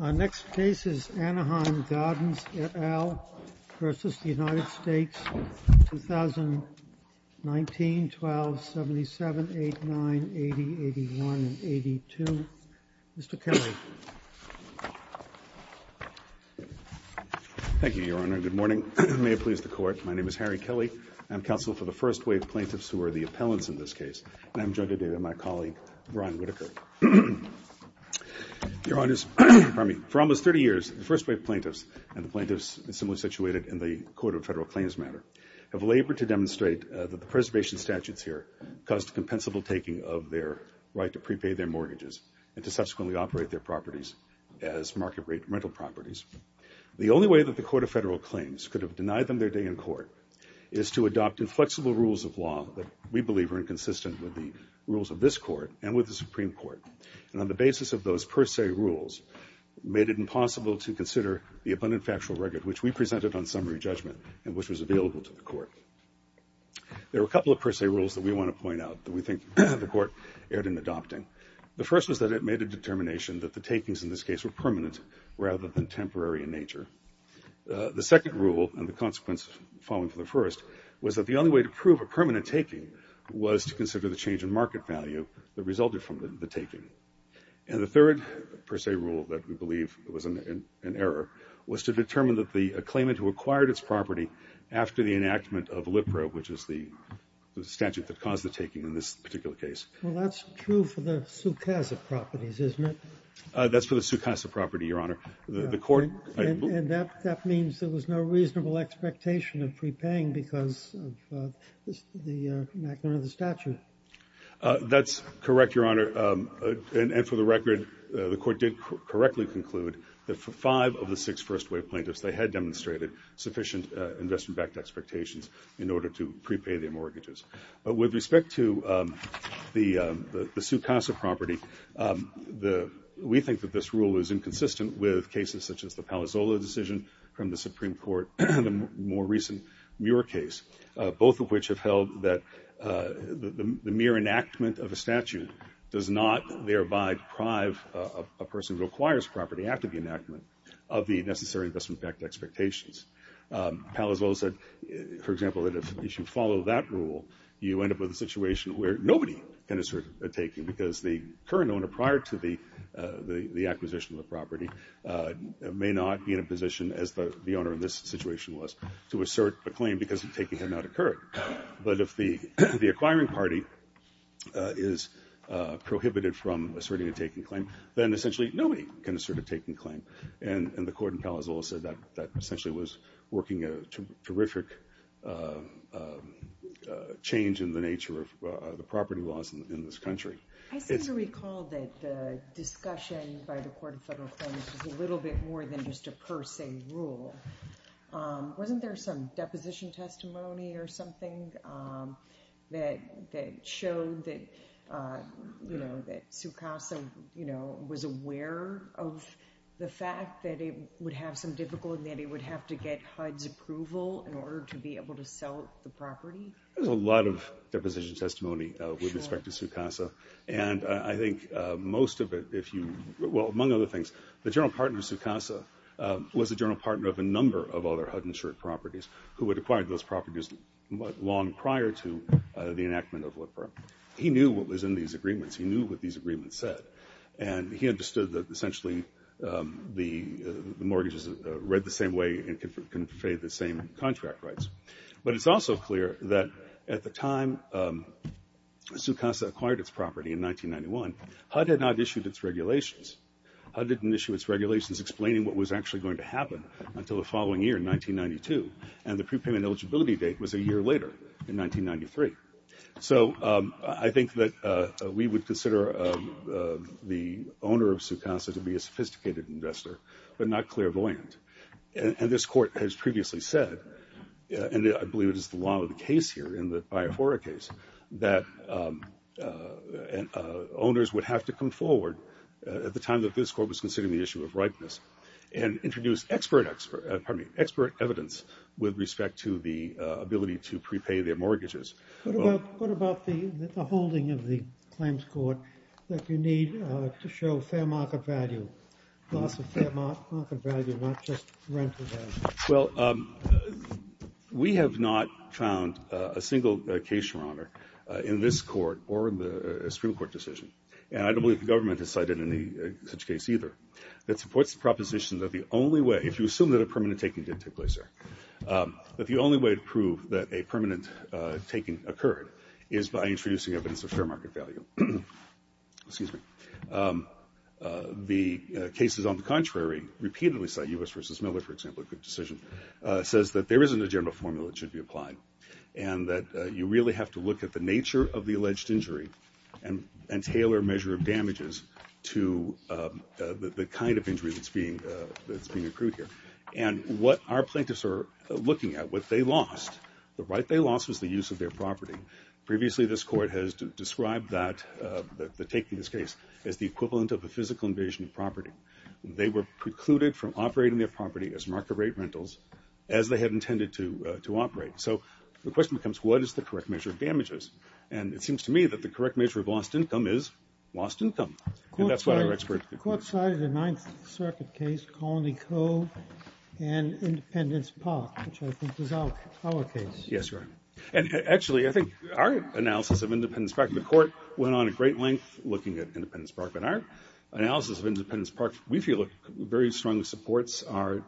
Our next witness is Harry Kelley, counsel for the First Wave Plaintiffs, who are the appellants in this case. And I'm joined today by my colleague, Ron Whitaker. Your Honors, for almost 30 years, the First Wave Plaintiffs and the plaintiffs situated in the Court of Federal Claims matter have labored to demonstrate that the preservation statutes here caused compensable taking of their right to prepay their mortgages and to subsequently operate their properties as market rate rental properties. The only way that the Court of Federal Claims could have denied them their day in court is to adopt inflexible rules of law that we believe are inconsistent with the rules of this Court and with the Supreme Court, and on the basis of those per se rules made it impossible to consider the abundant factual record which we presented on summary judgment and which was available to the Court. There are a couple of per se rules that we want to point out that we think the Court erred in adopting. The first was that it made a determination that the takings in this case were permanent rather than temporary in nature. The second rule, and the consequence following from the first, was that the only way to prove a permanent taking was to consider the change in market value that resulted from the taking. And the third per se rule that we believe was an error was to determine that the claimant who acquired its property after the enactment of LIPRA, which is the statute that caused the taking in this particular case. Well, that's true for the Sucasa properties, isn't it? That's for the Sucasa property, Your Honor. And that means there was no reasonable expectation of prepaying because of the enactment of the statute. That's correct, Your Honor. And for the record, the Court did correctly conclude that for five of the six first-wave plaintiffs, they had demonstrated sufficient investment-backed expectations in order to prepay their mortgages. But with respect to the Sucasa property, we think that this rule is inconsistent with cases such as the Palazzolo decision from the Supreme Court and the more recent Muir case, both of which have held that the mere enactment of a statute does not thereby deprive a person who acquires property after the enactment of the necessary investment-backed expectations. Palazzolo said, for example, that if you follow that rule, you end up with a situation where nobody can assert a taking because the current owner prior to the acquisition of the property may not be in a position, as the owner in this situation was, to assert a claim because the taking had not occurred. But if the acquiring party is prohibited from asserting a taking claim, then essentially nobody can assert a taking claim. And the Court in Palazzolo said that essentially was working a terrific change in the nature of the property laws in this country. I seem to recall that the discussion by the Court of Federal Claims was a little bit more than just a per se rule. Wasn't there some deposition testimony or something that showed that Sucasa was aware of the fact that it would have some difficulty and that it would have to get HUD's approval in order to be able to sell the property? There was a lot of deposition testimony with respect to Sucasa. And I think most of it, if you, well, among other things, the general partner of Sucasa was a general partner of a number of other HUD-insured properties who had acquired those properties long prior to the enactment of LIPRA. He knew what was in these agreements. He knew what these agreements said. And he understood that essentially the mortgages read the same way and conveyed the same contract rights. But it's also clear that at the time Sucasa acquired its property in 1991, HUD had not issued its regulations. HUD didn't issue its regulations explaining what was actually going to happen until the following year in 1992. And the prepayment eligibility date was a year later in 1993. So I think that we would consider the owner of Sucasa to be a sophisticated investor but not clairvoyant. And this Court has previously said, and I believe it is the law of the case here in the Biafora case, that owners would have to come forward at the time that this Court was considering the issue of ripeness and introduce expert evidence with respect to the ability to prepay their mortgages. What about the holding of the claims court that you need to show fair market value, loss of fair market value, not just rental value? Well, we have not found a single case, Your Honor, in this Court or in the Supreme Court decision, and I don't believe the government has cited any such case either, that supports the proposition that the only way, if you assume that a permanent taking did take place there, that the only way to prove that a permanent taking occurred is by introducing evidence of fair market value. The cases on the contrary repeatedly cite U.S. v. Miller, for example, a good decision, says that there isn't a general formula that should be applied and that you really have to look at the nature of the alleged injury and tailor a measure of damages to the kind of injury that's being accrued here. And what our plaintiffs are looking at, what they lost, the right they lost was the use of their property. Previously this Court has described the taking of this case as the equivalent of a physical invasion of property. They were precluded from operating their property as market rate rentals, as they had intended to operate. So the question becomes, what is the correct measure of damages? And it seems to me that the correct measure of lost income is lost income. And that's what our experts conclude. The Court cited a Ninth Circuit case, Colony Cove and Independence Park, which I think is our case. Yes, Your Honor. And actually I think our analysis of Independence Park, the Court went on a great length looking at Independence Park, but our analysis of Independence Park we feel very strongly supports our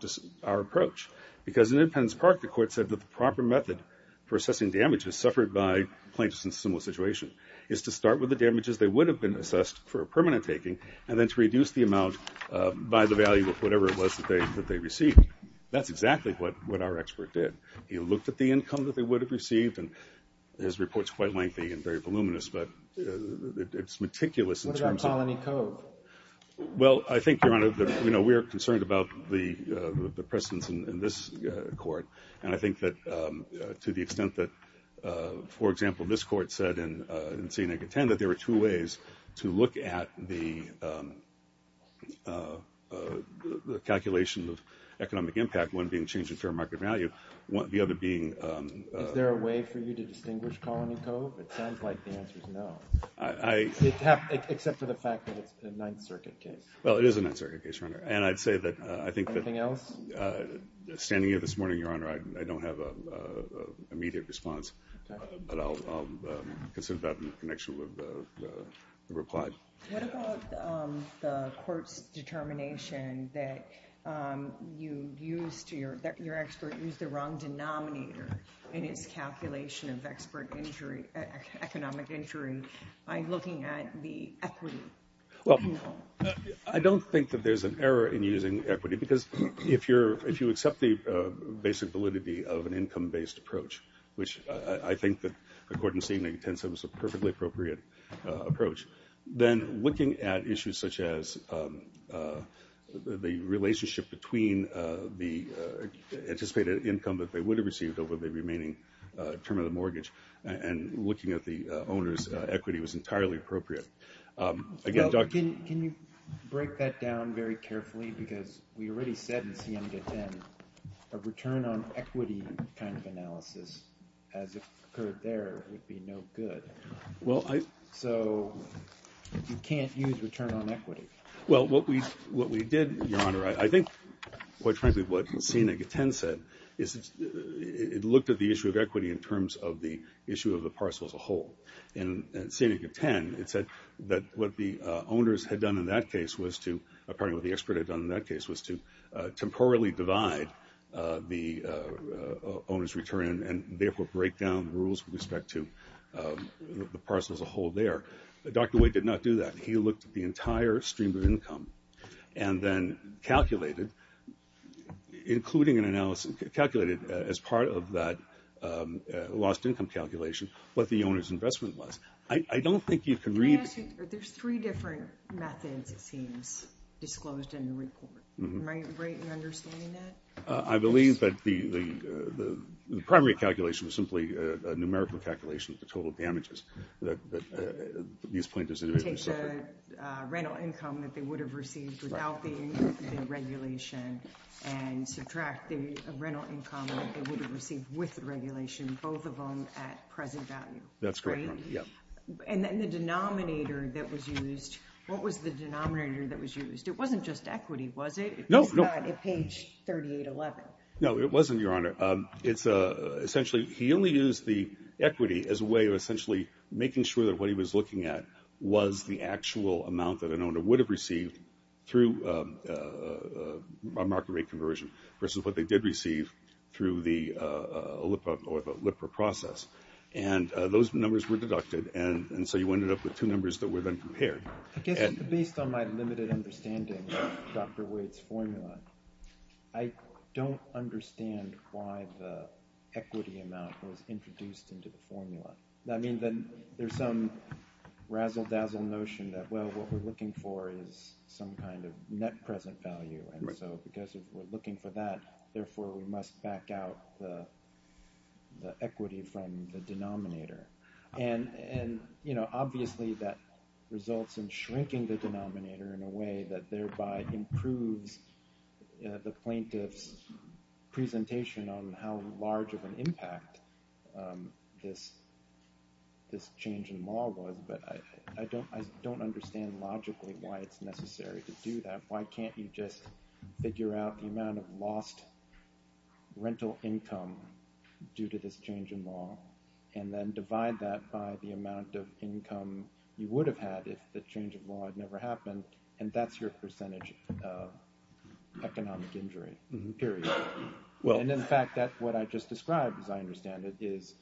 approach. Because in Independence Park the Court said that the proper method for assessing damages suffered by plaintiffs in a similar situation is to start with the damages they would have been assessed for a permanent taking and then to reduce the amount by the value of whatever it was that they received. That's exactly what our expert did. He looked at the income that they would have received, and his report is quite lengthy and very voluminous, but it's meticulous in terms of— What about Colony Cove? Well, I think, Your Honor, we are concerned about the precedence in this Court. And I think that to the extent that, for example, this Court said in C-10 that there were two ways to look at the calculation of economic impact, one being change in fair market value, the other being— Is there a way for you to distinguish Colony Cove? It sounds like the answer is no. Except for the fact that it's a Ninth Circuit case. Well, it is a Ninth Circuit case, Your Honor. Anything else? Standing here this morning, Your Honor, I don't have an immediate response, but I'll consider that in connection with the reply. What about the Court's determination that your expert used the wrong denominator in his calculation of economic injury by looking at the equity? I don't think that there's an error in using equity because if you accept the basic validity of an income-based approach, which I think that, according to C-10, was a perfectly appropriate approach, then looking at issues such as the relationship between the anticipated income that they would have received over the remaining term of the mortgage and looking at the owner's equity was entirely appropriate. Can you break that down very carefully? Because we already said in C-10 a return on equity kind of analysis, as occurred there, would be no good. So you can't use return on equity. Well, what we did, Your Honor, I think, quite frankly, what C-10 said is it looked at the issue of equity in terms of the issue of the parcel as a whole. In C-10, it said that what the owners had done in that case was to, pardon me, what the expert had done in that case was to temporarily divide the owner's return and therefore break down rules with respect to the parcel as a whole there. Dr. Wade did not do that. He looked at the entire stream of income and then calculated, including an analysis, calculated as part of that lost income calculation what the owner's investment was. I don't think you can read it. Can I ask you, there's three different methods, it seems, disclosed in the report. Am I right in understanding that? I believe that the primary calculation was simply a numerical calculation of the total damages that these plaintiffs individually suffered. You take the rental income that they would have received without the regulation and subtract the rental income that they would have received with the regulation, both of them at present value. That's correct, Your Honor. And then the denominator that was used, what was the denominator that was used? It wasn't just equity, was it? No. It's not at page 3811. No, it wasn't, Your Honor. Essentially, he only used the equity as a way of essentially making sure that what he was looking at was the actual amount that an owner would have received through a market rate conversion versus what they did receive through the OLIPRA process. And those numbers were deducted, and so you ended up with two numbers that were then compared. Based on my limited understanding of Dr. Wade's formula, I don't understand why the equity amount was introduced into the formula. I mean, there's some razzle-dazzle notion that, well, what we're looking for is some kind of net present value. And so because we're looking for that, therefore we must back out the equity from the denominator. And, you know, obviously that results in shrinking the denominator in a way that thereby improves the plaintiff's presentation on how large of an impact this change in law was. But I don't understand logically why it's necessary to do that. Why can't you just figure out the amount of lost rental income due to this change in law, and then divide that by the amount of income you would have had if the change in law had never happened, and that's your percentage of economic injury, period. And, in fact, what I just described, as I understand it, is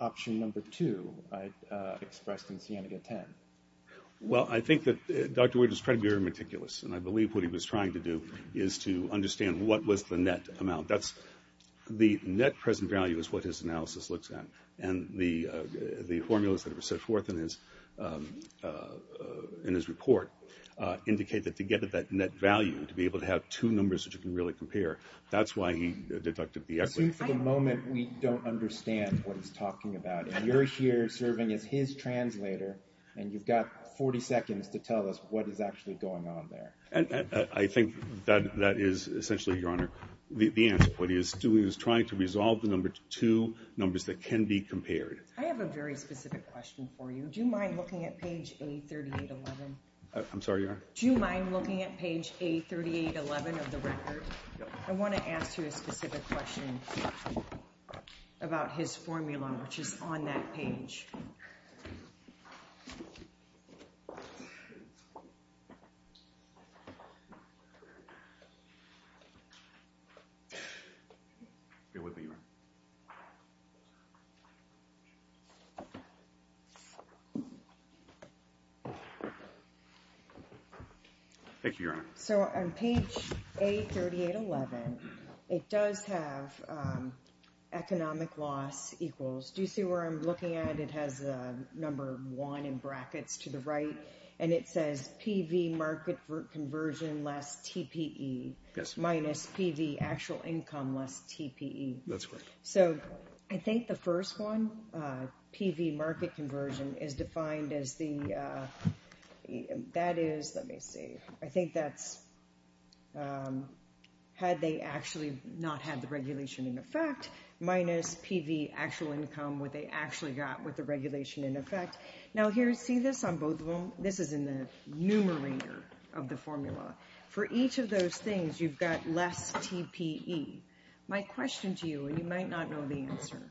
option number two I expressed in Sienega 10. Well, I think that Dr. Wood is trying to be very meticulous, and I believe what he was trying to do is to understand what was the net amount. That's the net present value is what his analysis looks at. And the formulas that were set forth in his report indicate that to get at that net value, to be able to have two numbers that you can really compare, that's why he deducted the equity. I assume for the moment we don't understand what he's talking about. And you're here serving as his translator, and you've got 40 seconds to tell us what is actually going on there. I think that is essentially, Your Honor, the answer. What he is doing is trying to resolve the number two numbers that can be compared. I have a very specific question for you. Do you mind looking at page A3811? I'm sorry, Your Honor? Do you mind looking at page A3811 of the record? I want to ask you a specific question about his formula, which is on that page. Thank you, Your Honor. So on page A3811, it does have economic loss equals. Do you see where I'm looking at? It has the number one in brackets to the right, and it says PV market conversion less TPE minus PV actual income less TPE. That's correct. So I think the first one, PV market conversion, is defined as the – that is – let me see. I think that's – had they actually not had the regulation in effect, minus PV actual income, what they actually got with the regulation in effect. Now here, see this on both of them? This is in the numerator of the formula. For each of those things, you've got less TPE. My question to you, and you might not know the answer,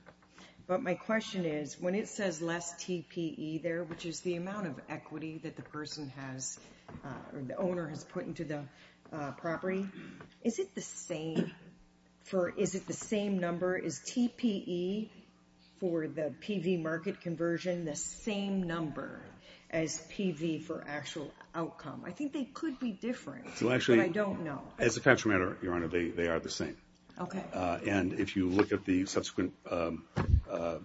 but my question is, when it says less TPE there, which is the amount of equity that the person has – or the owner has put into the property, is it the same for – is it the same number? Is TPE for the PV market conversion the same number as PV for actual outcome? I think they could be different, but I don't know. It's a fact of the matter, Your Honor. They are the same. Okay. And if you look at the subsequent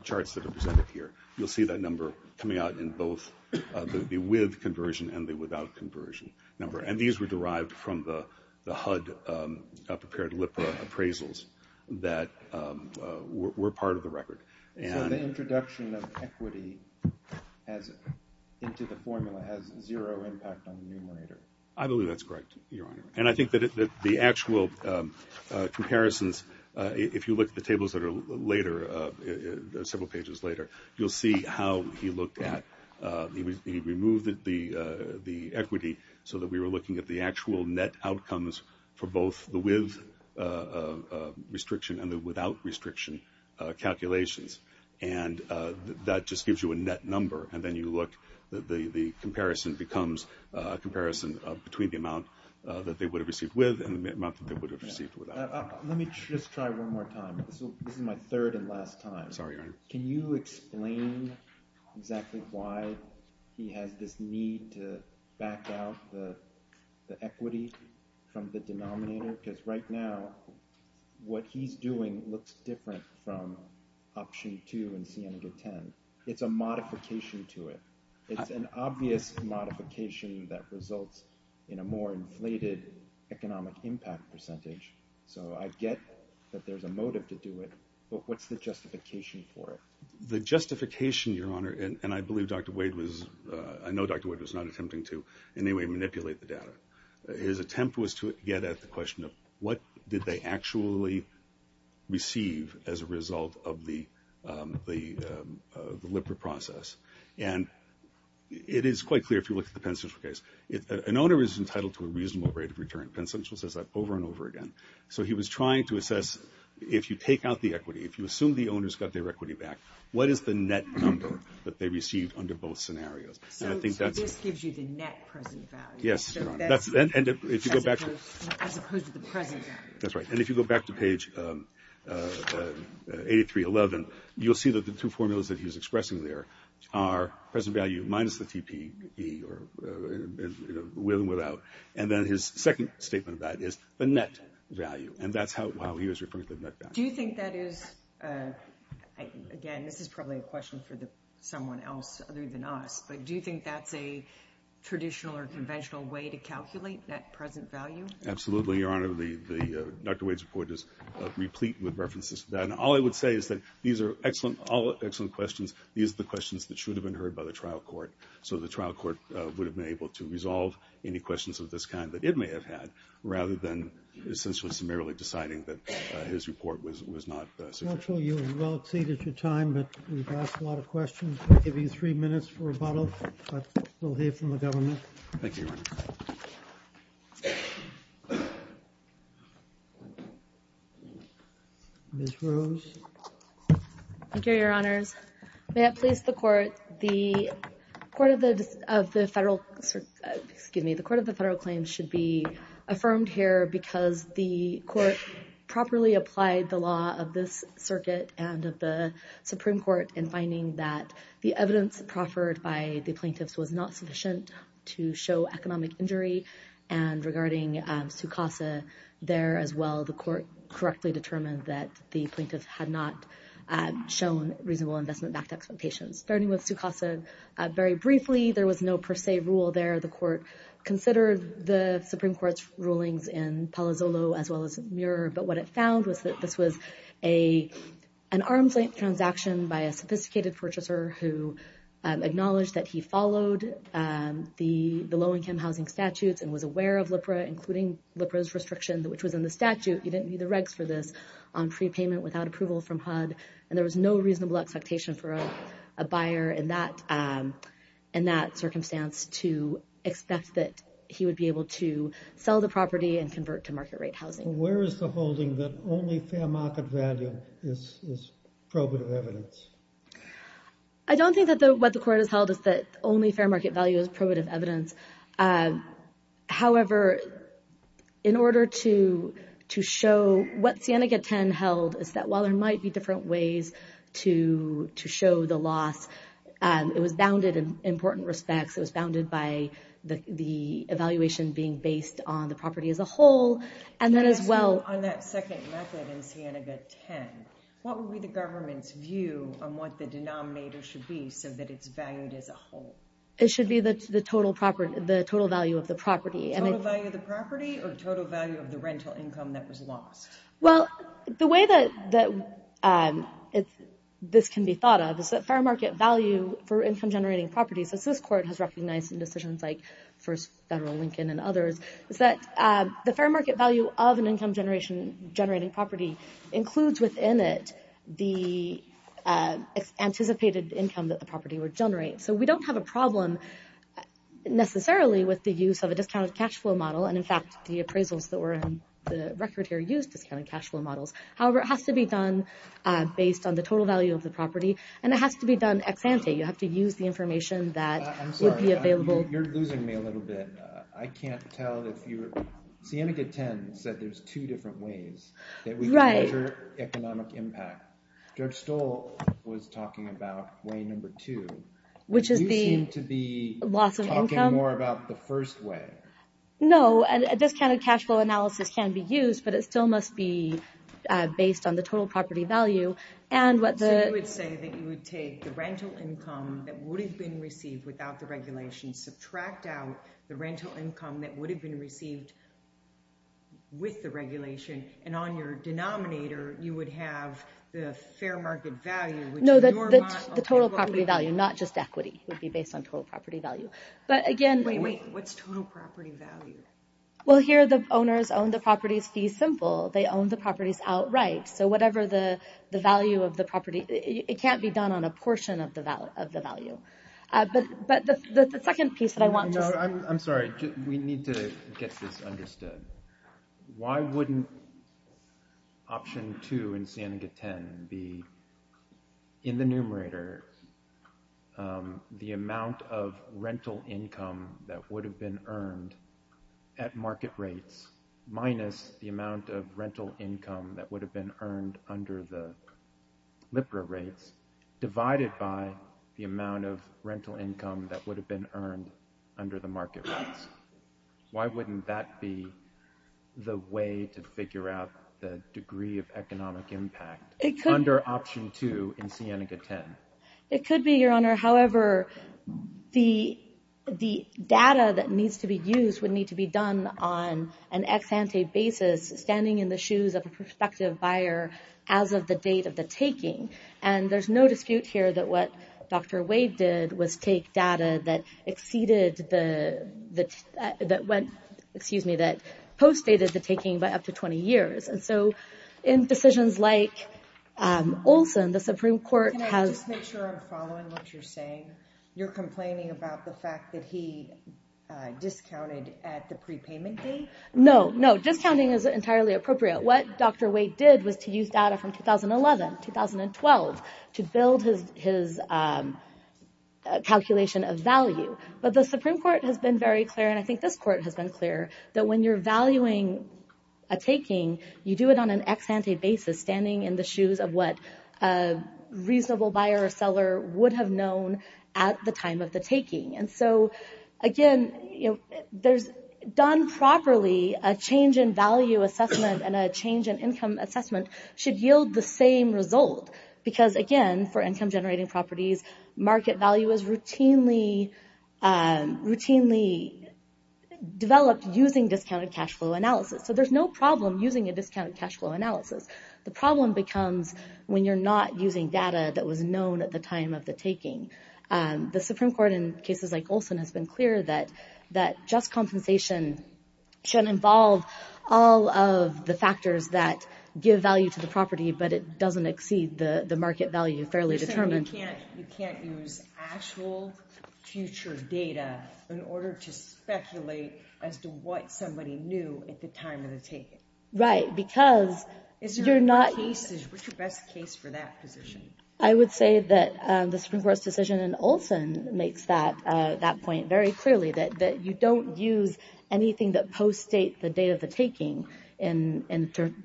charts that are presented here, you'll see that number coming out in both the with conversion and the without conversion number. And these were derived from the HUD-prepared LIPRA appraisals that were part of the record. So the introduction of equity into the formula has zero impact on the numerator? I believe that's correct, Your Honor. And I think that the actual comparisons, if you look at the tables that are later, several pages later, you'll see how he looked at – he removed the equity so that we were looking at the actual net outcomes for both the with restriction and the without restriction calculations. And that just gives you a net number, and then you look. The comparison becomes a comparison between the amount that they would have received with and the amount that they would have received without. Let me just try one more time. This is my third and last time. I'm sorry, Your Honor. Can you explain exactly why he has this need to back out the equity from the denominator? Because right now, what he's doing looks different from option 2 in Sienega 10. It's a modification to it. It's an obvious modification that results in a more inflated economic impact percentage. So I get that there's a motive to do it, but what's the justification for it? The justification, Your Honor, and I believe Dr. Wade was – I know Dr. Wade was not attempting to in any way manipulate the data. His attempt was to get at the question of what did they actually receive as a result of the LIPR process. And it is quite clear if you look at the Penn Central case. An owner is entitled to a reasonable rate of return. Penn Central says that over and over again. So he was trying to assess if you take out the equity, if you assume the owners got their equity back, what is the net number that they received under both scenarios? So this gives you the net present value. Yes. As opposed to the present value. That's right. And if you go back to page 8311, you'll see that the two formulas that he's expressing there are present value minus the TPE, or will and without. And then his second statement of that is the net value. And that's how he was referring to the net value. Do you think that is – again, this is probably a question for someone else other than us, but do you think that's a traditional or conventional way to calculate that present value? Absolutely, Your Honor. Dr. Wade's report is replete with references to that. And all I would say is that these are all excellent questions. These are the questions that should have been heard by the trial court so the trial court would have been able to resolve any questions of this kind that it may have had rather than essentially summarily deciding that his report was not sufficient. Marshall, you have well exceeded your time, but we've asked a lot of questions. We'll give you three minutes for rebuttal, but we'll hear from the government. Thank you, Your Honor. Ms. Rose. Thank you, Your Honors. May it please the Court. The Court of the Federal Claims should be affirmed here because the Court properly applied the law of this circuit and of the Supreme Court in finding that the evidence proffered by the plaintiffs was not sufficient to show economic injury. And regarding Su Casa there as well, the Court correctly determined that the plaintiff had not shown reasonable investment back to expectations. Starting with Su Casa, very briefly, there was no per se rule there. The Court considered the Supreme Court's rulings in Palazzolo as well as Muir, but what it found was that this was an arms-length transaction by a sophisticated purchaser who acknowledged that he followed the low-income housing statutes and was aware of LIPRA, including LIPRA's restriction, which was in the statute. You didn't need the regs for this on prepayment without approval from HUD. And there was no reasonable expectation for a buyer in that circumstance to expect that he would be able to sell the property and convert to market-rate housing. Where is the holding that only fair market value is probative evidence? I don't think that what the Court has held is that only fair market value is probative evidence. However, in order to show what Cienega 10 held, is that while there might be different ways to show the loss, it was bounded in important respects. It was bounded by the evaluation being based on the property as a whole. And then as well... On that second method in Cienega 10, what would be the government's view on what the denominator should be so that it's valued as a whole? It should be the total value of the property. Total value of the property or total value of the rental income that was lost? Well, the way that this can be thought of is that fair market value for income-generating properties, as this Court has recognized in decisions like first federal Lincoln and others, is that the fair market value of an income-generating property includes within it the anticipated income that the property would generate. So we don't have a problem necessarily with the use of a discounted cash flow model, and in fact the appraisals that were on the record here used discounted cash flow models. However, it has to be done based on the total value of the property, and it has to be done ex-ante. You have to use the information that would be available... I'm sorry, you're losing me a little bit. I can't tell if you're... Cienega 10 said there's two different ways that we measure economic impact. George Stoll was talking about way number two. You seem to be talking more about the first way. No, a discounted cash flow analysis can be used, but it still must be based on the total property value. So you would say that you would take the rental income that would have been received without the regulation, subtract out the rental income that would have been received with the regulation, and on your denominator you would have the fair market value... No, the total property value, not just equity. It would be based on total property value. But again... Wait, wait, what's total property value? Well, here the owners own the properties fee simple. They own the properties outright, so whatever the value of the property... It can't be done on a portion of the value. But the second piece that I want to... I'm sorry, we need to get this understood. Why wouldn't option two in SANIGA 10 be in the numerator the amount of rental income that would have been earned at market rates minus the amount of rental income that would have been earned under the LIPRA rates divided by the amount of rental income that would have been earned under the market rates? Why wouldn't that be the way to figure out the degree of economic impact under option two in SANIGA 10? It could be, Your Honor. However, the data that needs to be used would need to be done on an ex ante basis, standing in the shoes of a prospective buyer as of the date of the taking. And there's no dispute here that what Dr. Wade did was take data that postdated the taking by up to 20 years. And so in decisions like Olson, the Supreme Court has... Can I just make sure I'm following what you're saying? You're complaining about the fact that he discounted at the prepayment date? No, no, discounting is entirely appropriate. What Dr. Wade did was to use data from 2011, 2012, to build his calculation of value. But the Supreme Court has been very clear, and I think this court has been clear, that when you're valuing a taking, you do it on an ex ante basis, standing in the shoes of what a reasonable buyer or seller would have known at the time of the taking. And so again, done properly, a change in value assessment and a change in income assessment should yield the same result. Because again, for income generating properties, market value is routinely developed using discounted cash flow analysis. So there's no problem using a discounted cash flow analysis. The problem becomes when you're not using data that was known at the time of the taking. The Supreme Court in cases like Olson has been clear that just compensation should involve all of the factors that give value to the property, but it doesn't exceed the market value fairly determined. You're saying you can't use actual future data in order to speculate as to what somebody knew at the time of the taking. Right, because you're not... What's your best case for that position? I would say that the Supreme Court's decision in Olson makes that point very clearly, that you don't use anything that postdates the date of the taking in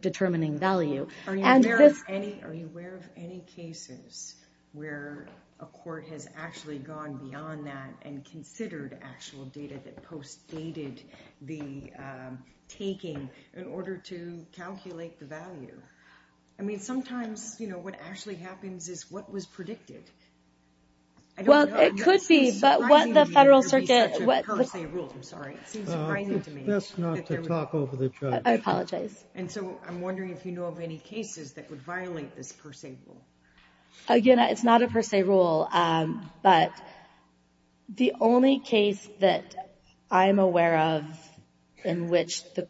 determining value. Are you aware of any cases where a court has actually gone beyond that and considered actual data that postdated the taking in order to calculate the value? I mean, sometimes what actually happens is what was predicted. Well, it could be, but what the Federal Circuit... It seems surprising to me that there would be such a per se rule. I'm sorry. It seems surprising to me. It's best not to talk over the judge. I apologize. And so I'm wondering if you know of any cases that would violate this per se rule. Again, it's not a per se rule, but the only case that I'm aware of in which the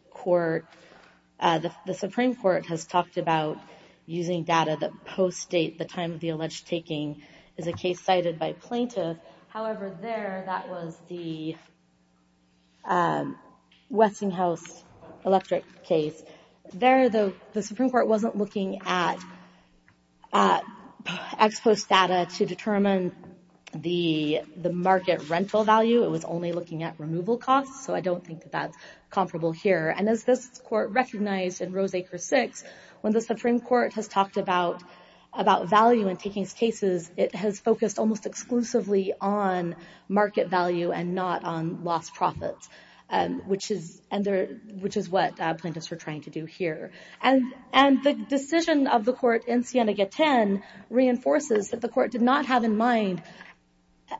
Supreme Court has talked about using data that postdate the time of the alleged taking is a case cited by plaintiff. However, there, that was the Westinghouse electric case. There, the Supreme Court wasn't looking at ex post data to determine the market rental value. It was only looking at removal costs. So I don't think that that's comparable here. And as this court recognized in Roseacre 6, when the Supreme Court has talked about value in taking cases, it has focused almost exclusively on market value and not on lost profits, which is what plaintiffs were trying to do here. And the decision of the court in Siena Gaten reinforces that the court did not have in mind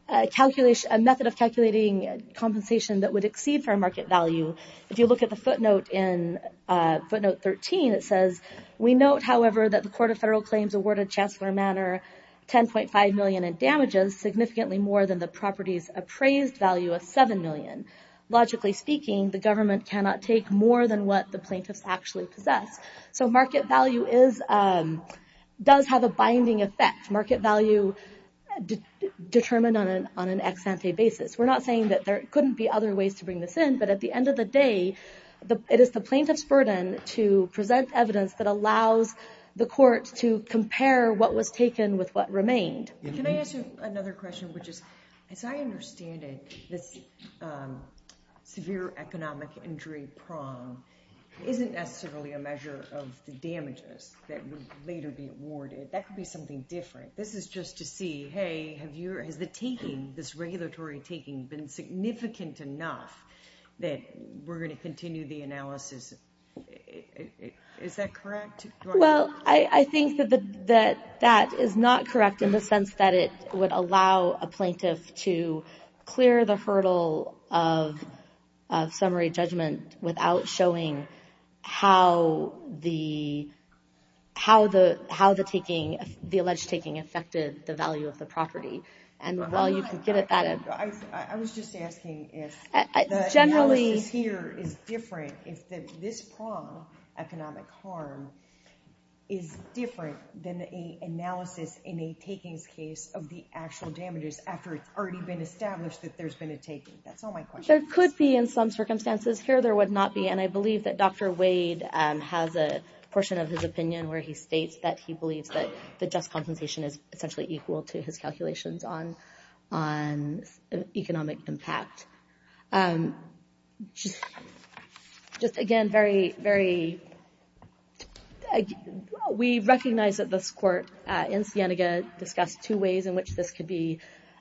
a method of calculating compensation that would exceed fair market value. If you look at the footnote in footnote 13, it says, we note, however, that the Court of Federal Claims awarded Chancellor Manor $10.5 million in damages, significantly more than the property's appraised value of $7 million. Logically speaking, the government cannot take more than what the plaintiffs actually possess. So market value does have a binding effect. Market value determined on an ex ante basis. We're not saying that there couldn't be other ways to bring this in, but at the end of the day, it is the plaintiff's burden to present evidence that allows the court to compare what was taken with what remained. Can I ask you another question, which is, as I understand it, this severe economic injury prong isn't necessarily a measure of the damages that would later be awarded. That could be something different. This is just to see, hey, has the taking, this regulatory taking, been significant enough that we're going to continue the analysis? Is that correct? Well, I think that that is not correct in the sense that it would allow a plaintiff to clear the hurdle of summary judgment without showing how the alleged taking affected the value of the property. I was just asking if the analysis here is different, if this prong, economic harm, is different than an analysis in a takings case of the actual damages after it's already been established that there's been a taking. That's all my question is. There could be in some circumstances. Here, there would not be. And I believe that Dr. Wade has a portion of his opinion where he states that he believes that the just compensation is essentially equal to his calculations on economic impact. Just again, very, very, well, we recognize that this court in Sienega discussed two ways in which this could be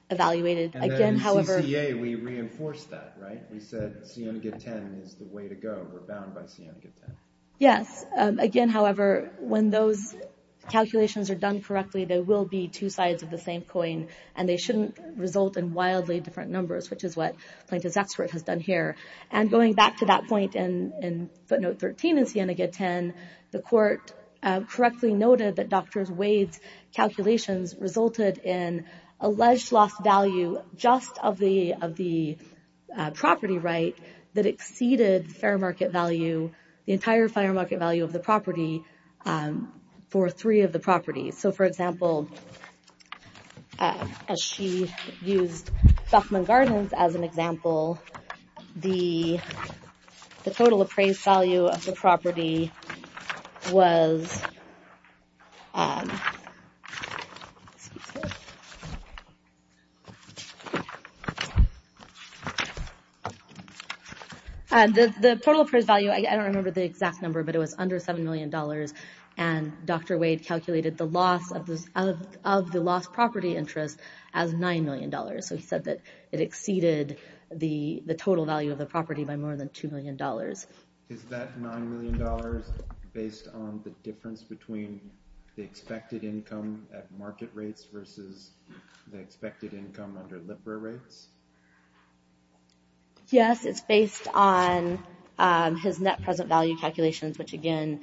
evaluated. And then in CCA, we reinforced that, right? We said Sienega 10 is the way to go. We're bound by Sienega 10. Yes. Again, however, when those calculations are done correctly, there will be two sides of the same coin, and they shouldn't result in wildly different numbers, which is what Plaintiff's expert has done here. And going back to that point in footnote 13 in Sienega 10, the court correctly noted that Dr. Wade's calculations resulted in alleged lost value just of the property right that exceeded fair market value, the entire fair market value of the property for three of the properties. So, for example, as she used Duffman Gardens as an example, the total appraised value of the property was, the total appraised value, I don't remember the exact number, but it was under $7 million. And Dr. Wade calculated the loss of the lost property interest as $9 million. So he said that it exceeded the total value of the property by more than $2 million. Is that $9 million based on the difference between the expected income at market rates versus the expected income under LIBRA rates? Yes, it's based on his net present value calculations, which, again,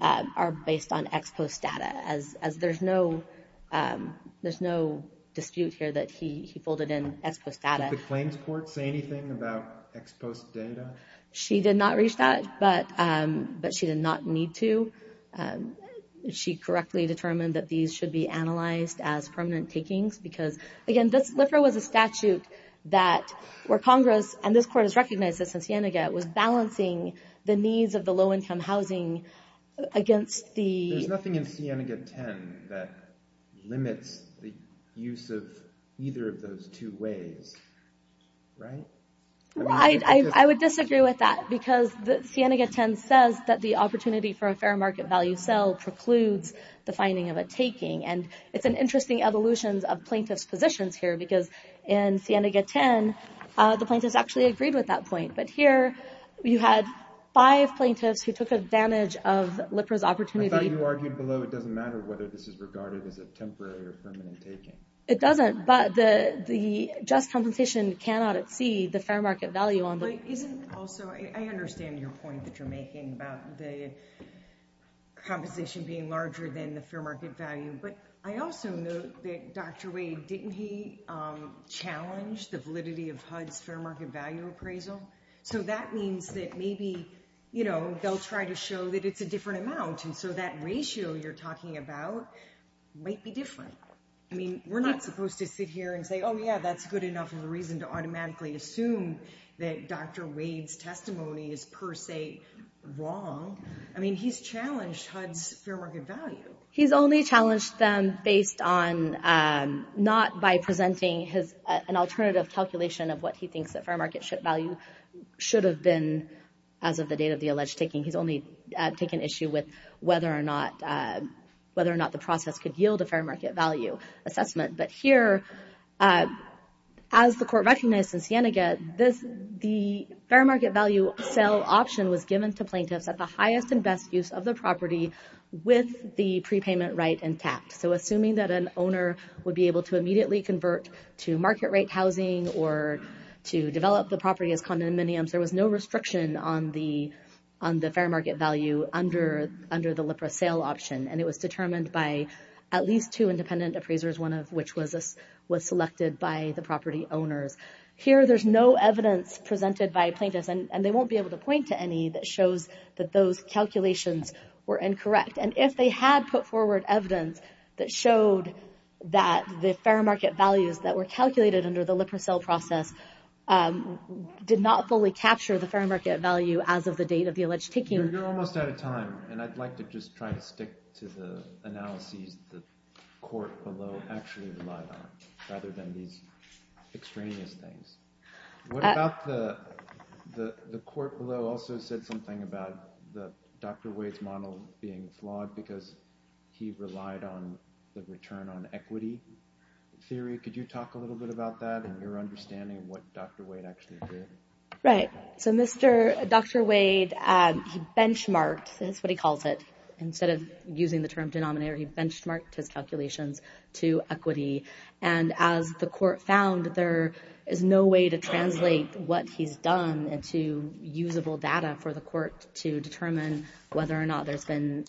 are based on ex post data. As there's no dispute here that he folded in ex post data. Did the claims court say anything about ex post data? She did not reach that, but she did not need to. She correctly determined that these should be analyzed as permanent takings because, again, LIBRA was a statute where Congress, and this court has recognized this in Sienega, was balancing the needs of the low income housing against the... There's nothing in Sienega 10 that limits the use of either of those two ways, right? I would disagree with that because Sienega 10 says that the opportunity for a fair market value sell precludes the finding of a taking. And it's an interesting evolution of plaintiff's positions here because in Sienega 10 the plaintiffs actually agreed with that point. But here you had five plaintiffs who took advantage of LIBRA's opportunity... I thought you argued below it doesn't matter whether this is regarded as a temporary or permanent taking. It doesn't, but the just compensation cannot exceed the fair market value on the... But isn't also, I understand your point that you're making about the compensation being larger than the fair market value, but I also note that Dr. Wade, didn't he challenge the validity of HUD's fair market value appraisal? So that means that maybe, you know, they'll try to show that it's a different amount and so that ratio you're talking about might be different. I mean, we're not supposed to sit here and say, oh yeah, that's good enough of a reason to automatically assume that Dr. Wade's testimony is per se wrong. I mean, he's challenged HUD's fair market value. He's only challenged them based on, not by presenting an alternative calculation of what he thinks that fair market value should have been as of the date of the alleged taking. He's only taken issue with whether or not the process could yield a fair market value assessment. But here, as the court recognized in Sienega, the fair market value sale option was given to plaintiffs at the highest and best use of the property with the prepayment right intact. So assuming that an owner would be able to immediately convert to market rate housing or to develop the property as condominiums, there was no restriction on the fair market value under the LIPRA sale option, and it was determined by at least two independent appraisers, one of which was selected by the property owners. Here, there's no evidence presented by plaintiffs, and they won't be able to point to any that shows that those calculations were incorrect. And if they had put forward evidence that showed that the fair market values that were calculated under the LIPRA sale process did not fully capture the fair market value as of the date of the alleged taking... You're almost out of time, and I'd like to just try to stick to the analyses the court below actually relied on, rather than these extraneous things. What about the court below also said something about Dr. Wade's model being flawed because he relied on the return on equity theory? Could you talk a little bit about that and your understanding of what Dr. Wade actually did? Right. So Dr. Wade, he benchmarked. That's what he calls it. Instead of using the term denominator, he benchmarked his calculations to equity. And as the court found, there is no way to translate what he's done into usable data for the court to determine whether or not there's been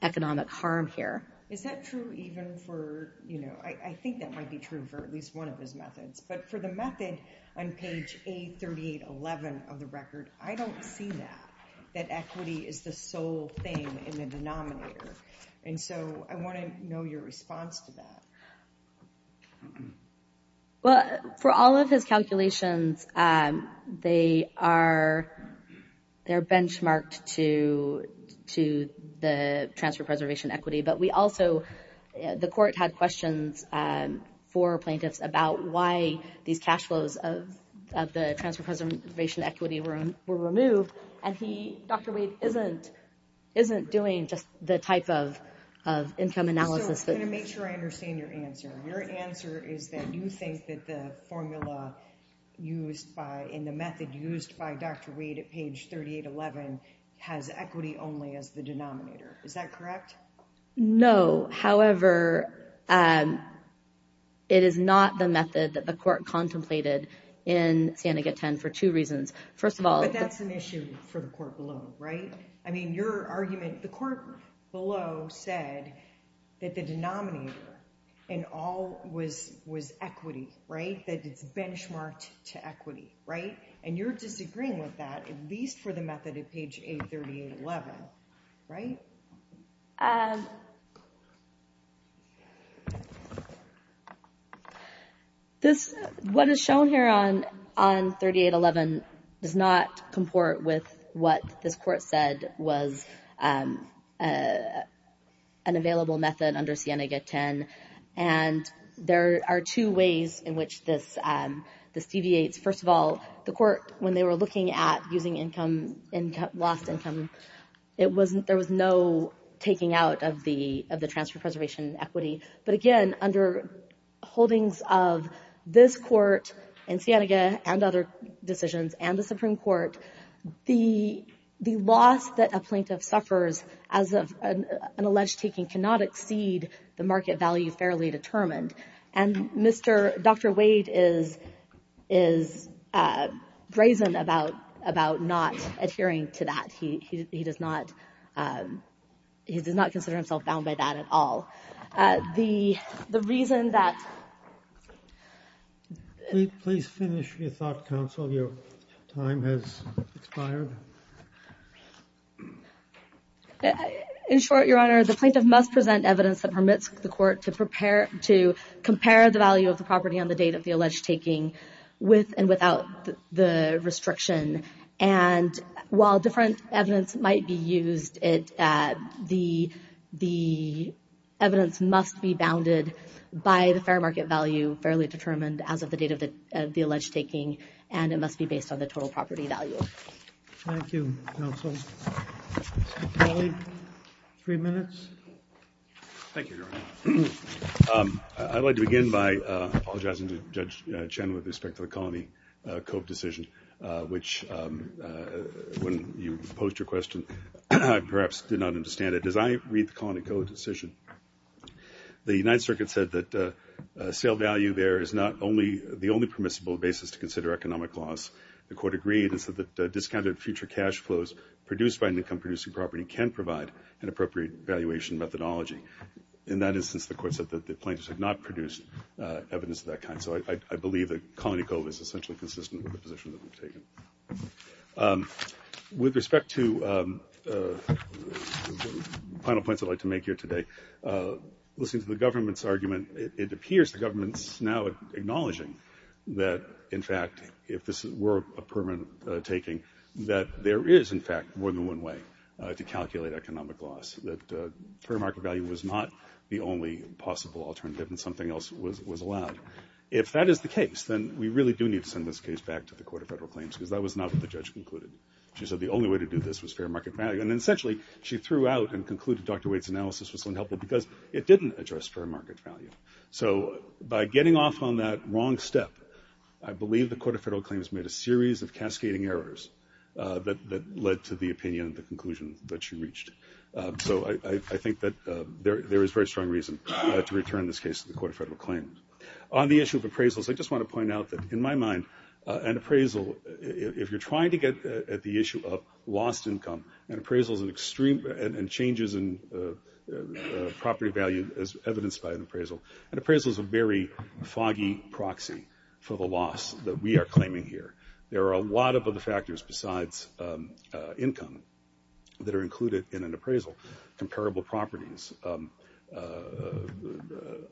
economic harm here. Is that true even for... I think that might be true for at least one of his methods, but for the method on page A3811 of the record, I don't see that, that equity is the sole thing in the denominator. And so I want to know your response to that. Well, for all of his calculations, they are benchmarked to the transfer preservation equity, but we also, the court had questions for plaintiffs about why these cash flows of the transfer preservation equity were removed. And he, Dr. Wade, isn't doing just the type of income analysis that... So I'm going to make sure I understand your answer. Your answer is that you think that the formula used by, and the method used by Dr. Wade at page 3811 has equity only as the denominator. Is that correct? No. However, it is not the method that the court contemplated in Sandicott 10 for two reasons. First of all... But that's an issue for the court below, right? I mean, your argument, the court below said that the denominator in all was equity, right? That it's benchmarked to equity, right? And you're disagreeing with that, at least for the method at page A3811, right? Um... This, what is shown here on 3811 does not comport with what this court said was an available method under Sienega 10, and there are two ways in which this deviates. First of all, the court, when they were looking at using lost income, there was no taking out of the transfer preservation equity. But again, under holdings of this court and Sienega and other decisions and the Supreme Court, the loss that a plaintiff suffers as an alleged taking cannot exceed the market value fairly determined. And Dr. Wade is brazen about not adhering to that. He does not consider himself bound by that at all. The reason that... Please finish your thought, counsel. Your time has expired. In short, Your Honor, the plaintiff must present evidence that permits the court to compare the value of the property on the date of the alleged taking with and without the restriction. And while different evidence might be used, the evidence must be bounded by the fair market value fairly determined as of the date of the alleged taking, and it must be based on the total property value. Thank you, counsel. Mr. Kelly, three minutes. Thank you, Your Honor. I'd like to begin by apologizing to Judge Chen with respect to the colony cope decision, which, when you posed your question, I perhaps did not understand it. As I read the colony cope decision, the United Circuit said that sale value there is not the only permissible basis to consider economic loss. The court agreed that discounted future cash flows produced by an income-producing property can provide an appropriate valuation methodology. In that instance, the court said that the plaintiffs had not produced evidence of that kind. And so I believe that colony cope is essentially consistent with the position that we've taken. With respect to the final points I'd like to make here today, listening to the government's argument, it appears the government's now acknowledging that, in fact, if this were a permanent taking, that there is, in fact, more than one way to calculate economic loss, that fair market value was not the only possible alternative and something else was allowed. If that is the case, then we really do need to send this case back to the Court of Federal Claims, because that was not what the judge concluded. She said the only way to do this was fair market value. And essentially she threw out and concluded Dr. Wade's analysis was unhelpful because it didn't address fair market value. So by getting off on that wrong step, I believe the Court of Federal Claims made a series of cascading errors that led to the opinion and the conclusion that she reached. So I think that there is very strong reason to return this case to the Court of Federal Claims. On the issue of appraisals, I just want to point out that, in my mind, an appraisal, if you're trying to get at the issue of lost income, an appraisal is an extreme and changes in property value as evidenced by an appraisal. An appraisal is a very foggy proxy for the loss that we are claiming here. There are a lot of other factors besides income that are included in an appraisal. Comparable properties,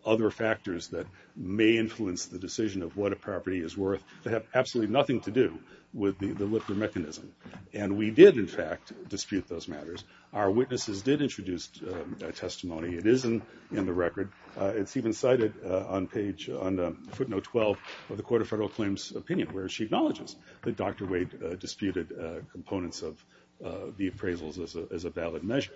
other factors that may influence the decision of what a property is worth. They have absolutely nothing to do with the Lipner mechanism. And we did, in fact, dispute those matters. Our witnesses did introduce testimony. It is in the record. It's even cited on footnote 12 of the Court of Federal Claims' opinion, where she acknowledges that Dr. Wade disputed components of the appraisals as a valid measure.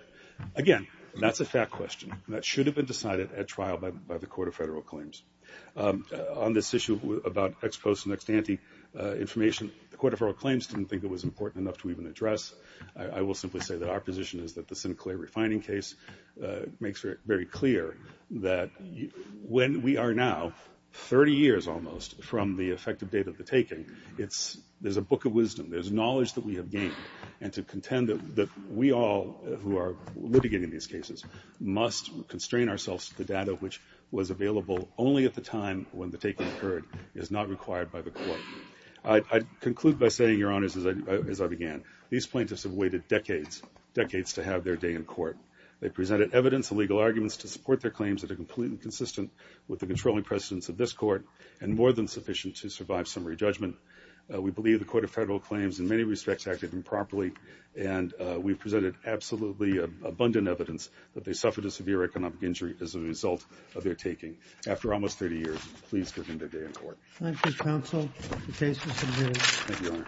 Again, that's a fact question. That should have been decided at trial by the Court of Federal Claims. On this issue about ex post and ex ante information, the Court of Federal Claims didn't think it was important enough to even address. I will simply say that our position is that the Sinclair refining case makes it very clear that when we are now 30 years almost from the effective date of the taking, there's a book of wisdom. There's knowledge that we have gained. And to contend that we all who are litigating these cases must constrain ourselves to the data which was available only at the time when the taking occurred is not required by the Court. I conclude by saying, Your Honors, as I began, these plaintiffs have waited decades, decades to have their day in court. They presented evidence and legal arguments to support their claims that are completely consistent with the controlling precedents of this Court and more than sufficient to survive summary judgment. We believe the Court of Federal Claims in many respects acted improperly, and we've presented absolutely abundant evidence that they suffered a severe economic injury as a result of their taking. After almost 30 years, please give them their day in court. Thank you, Your Honor.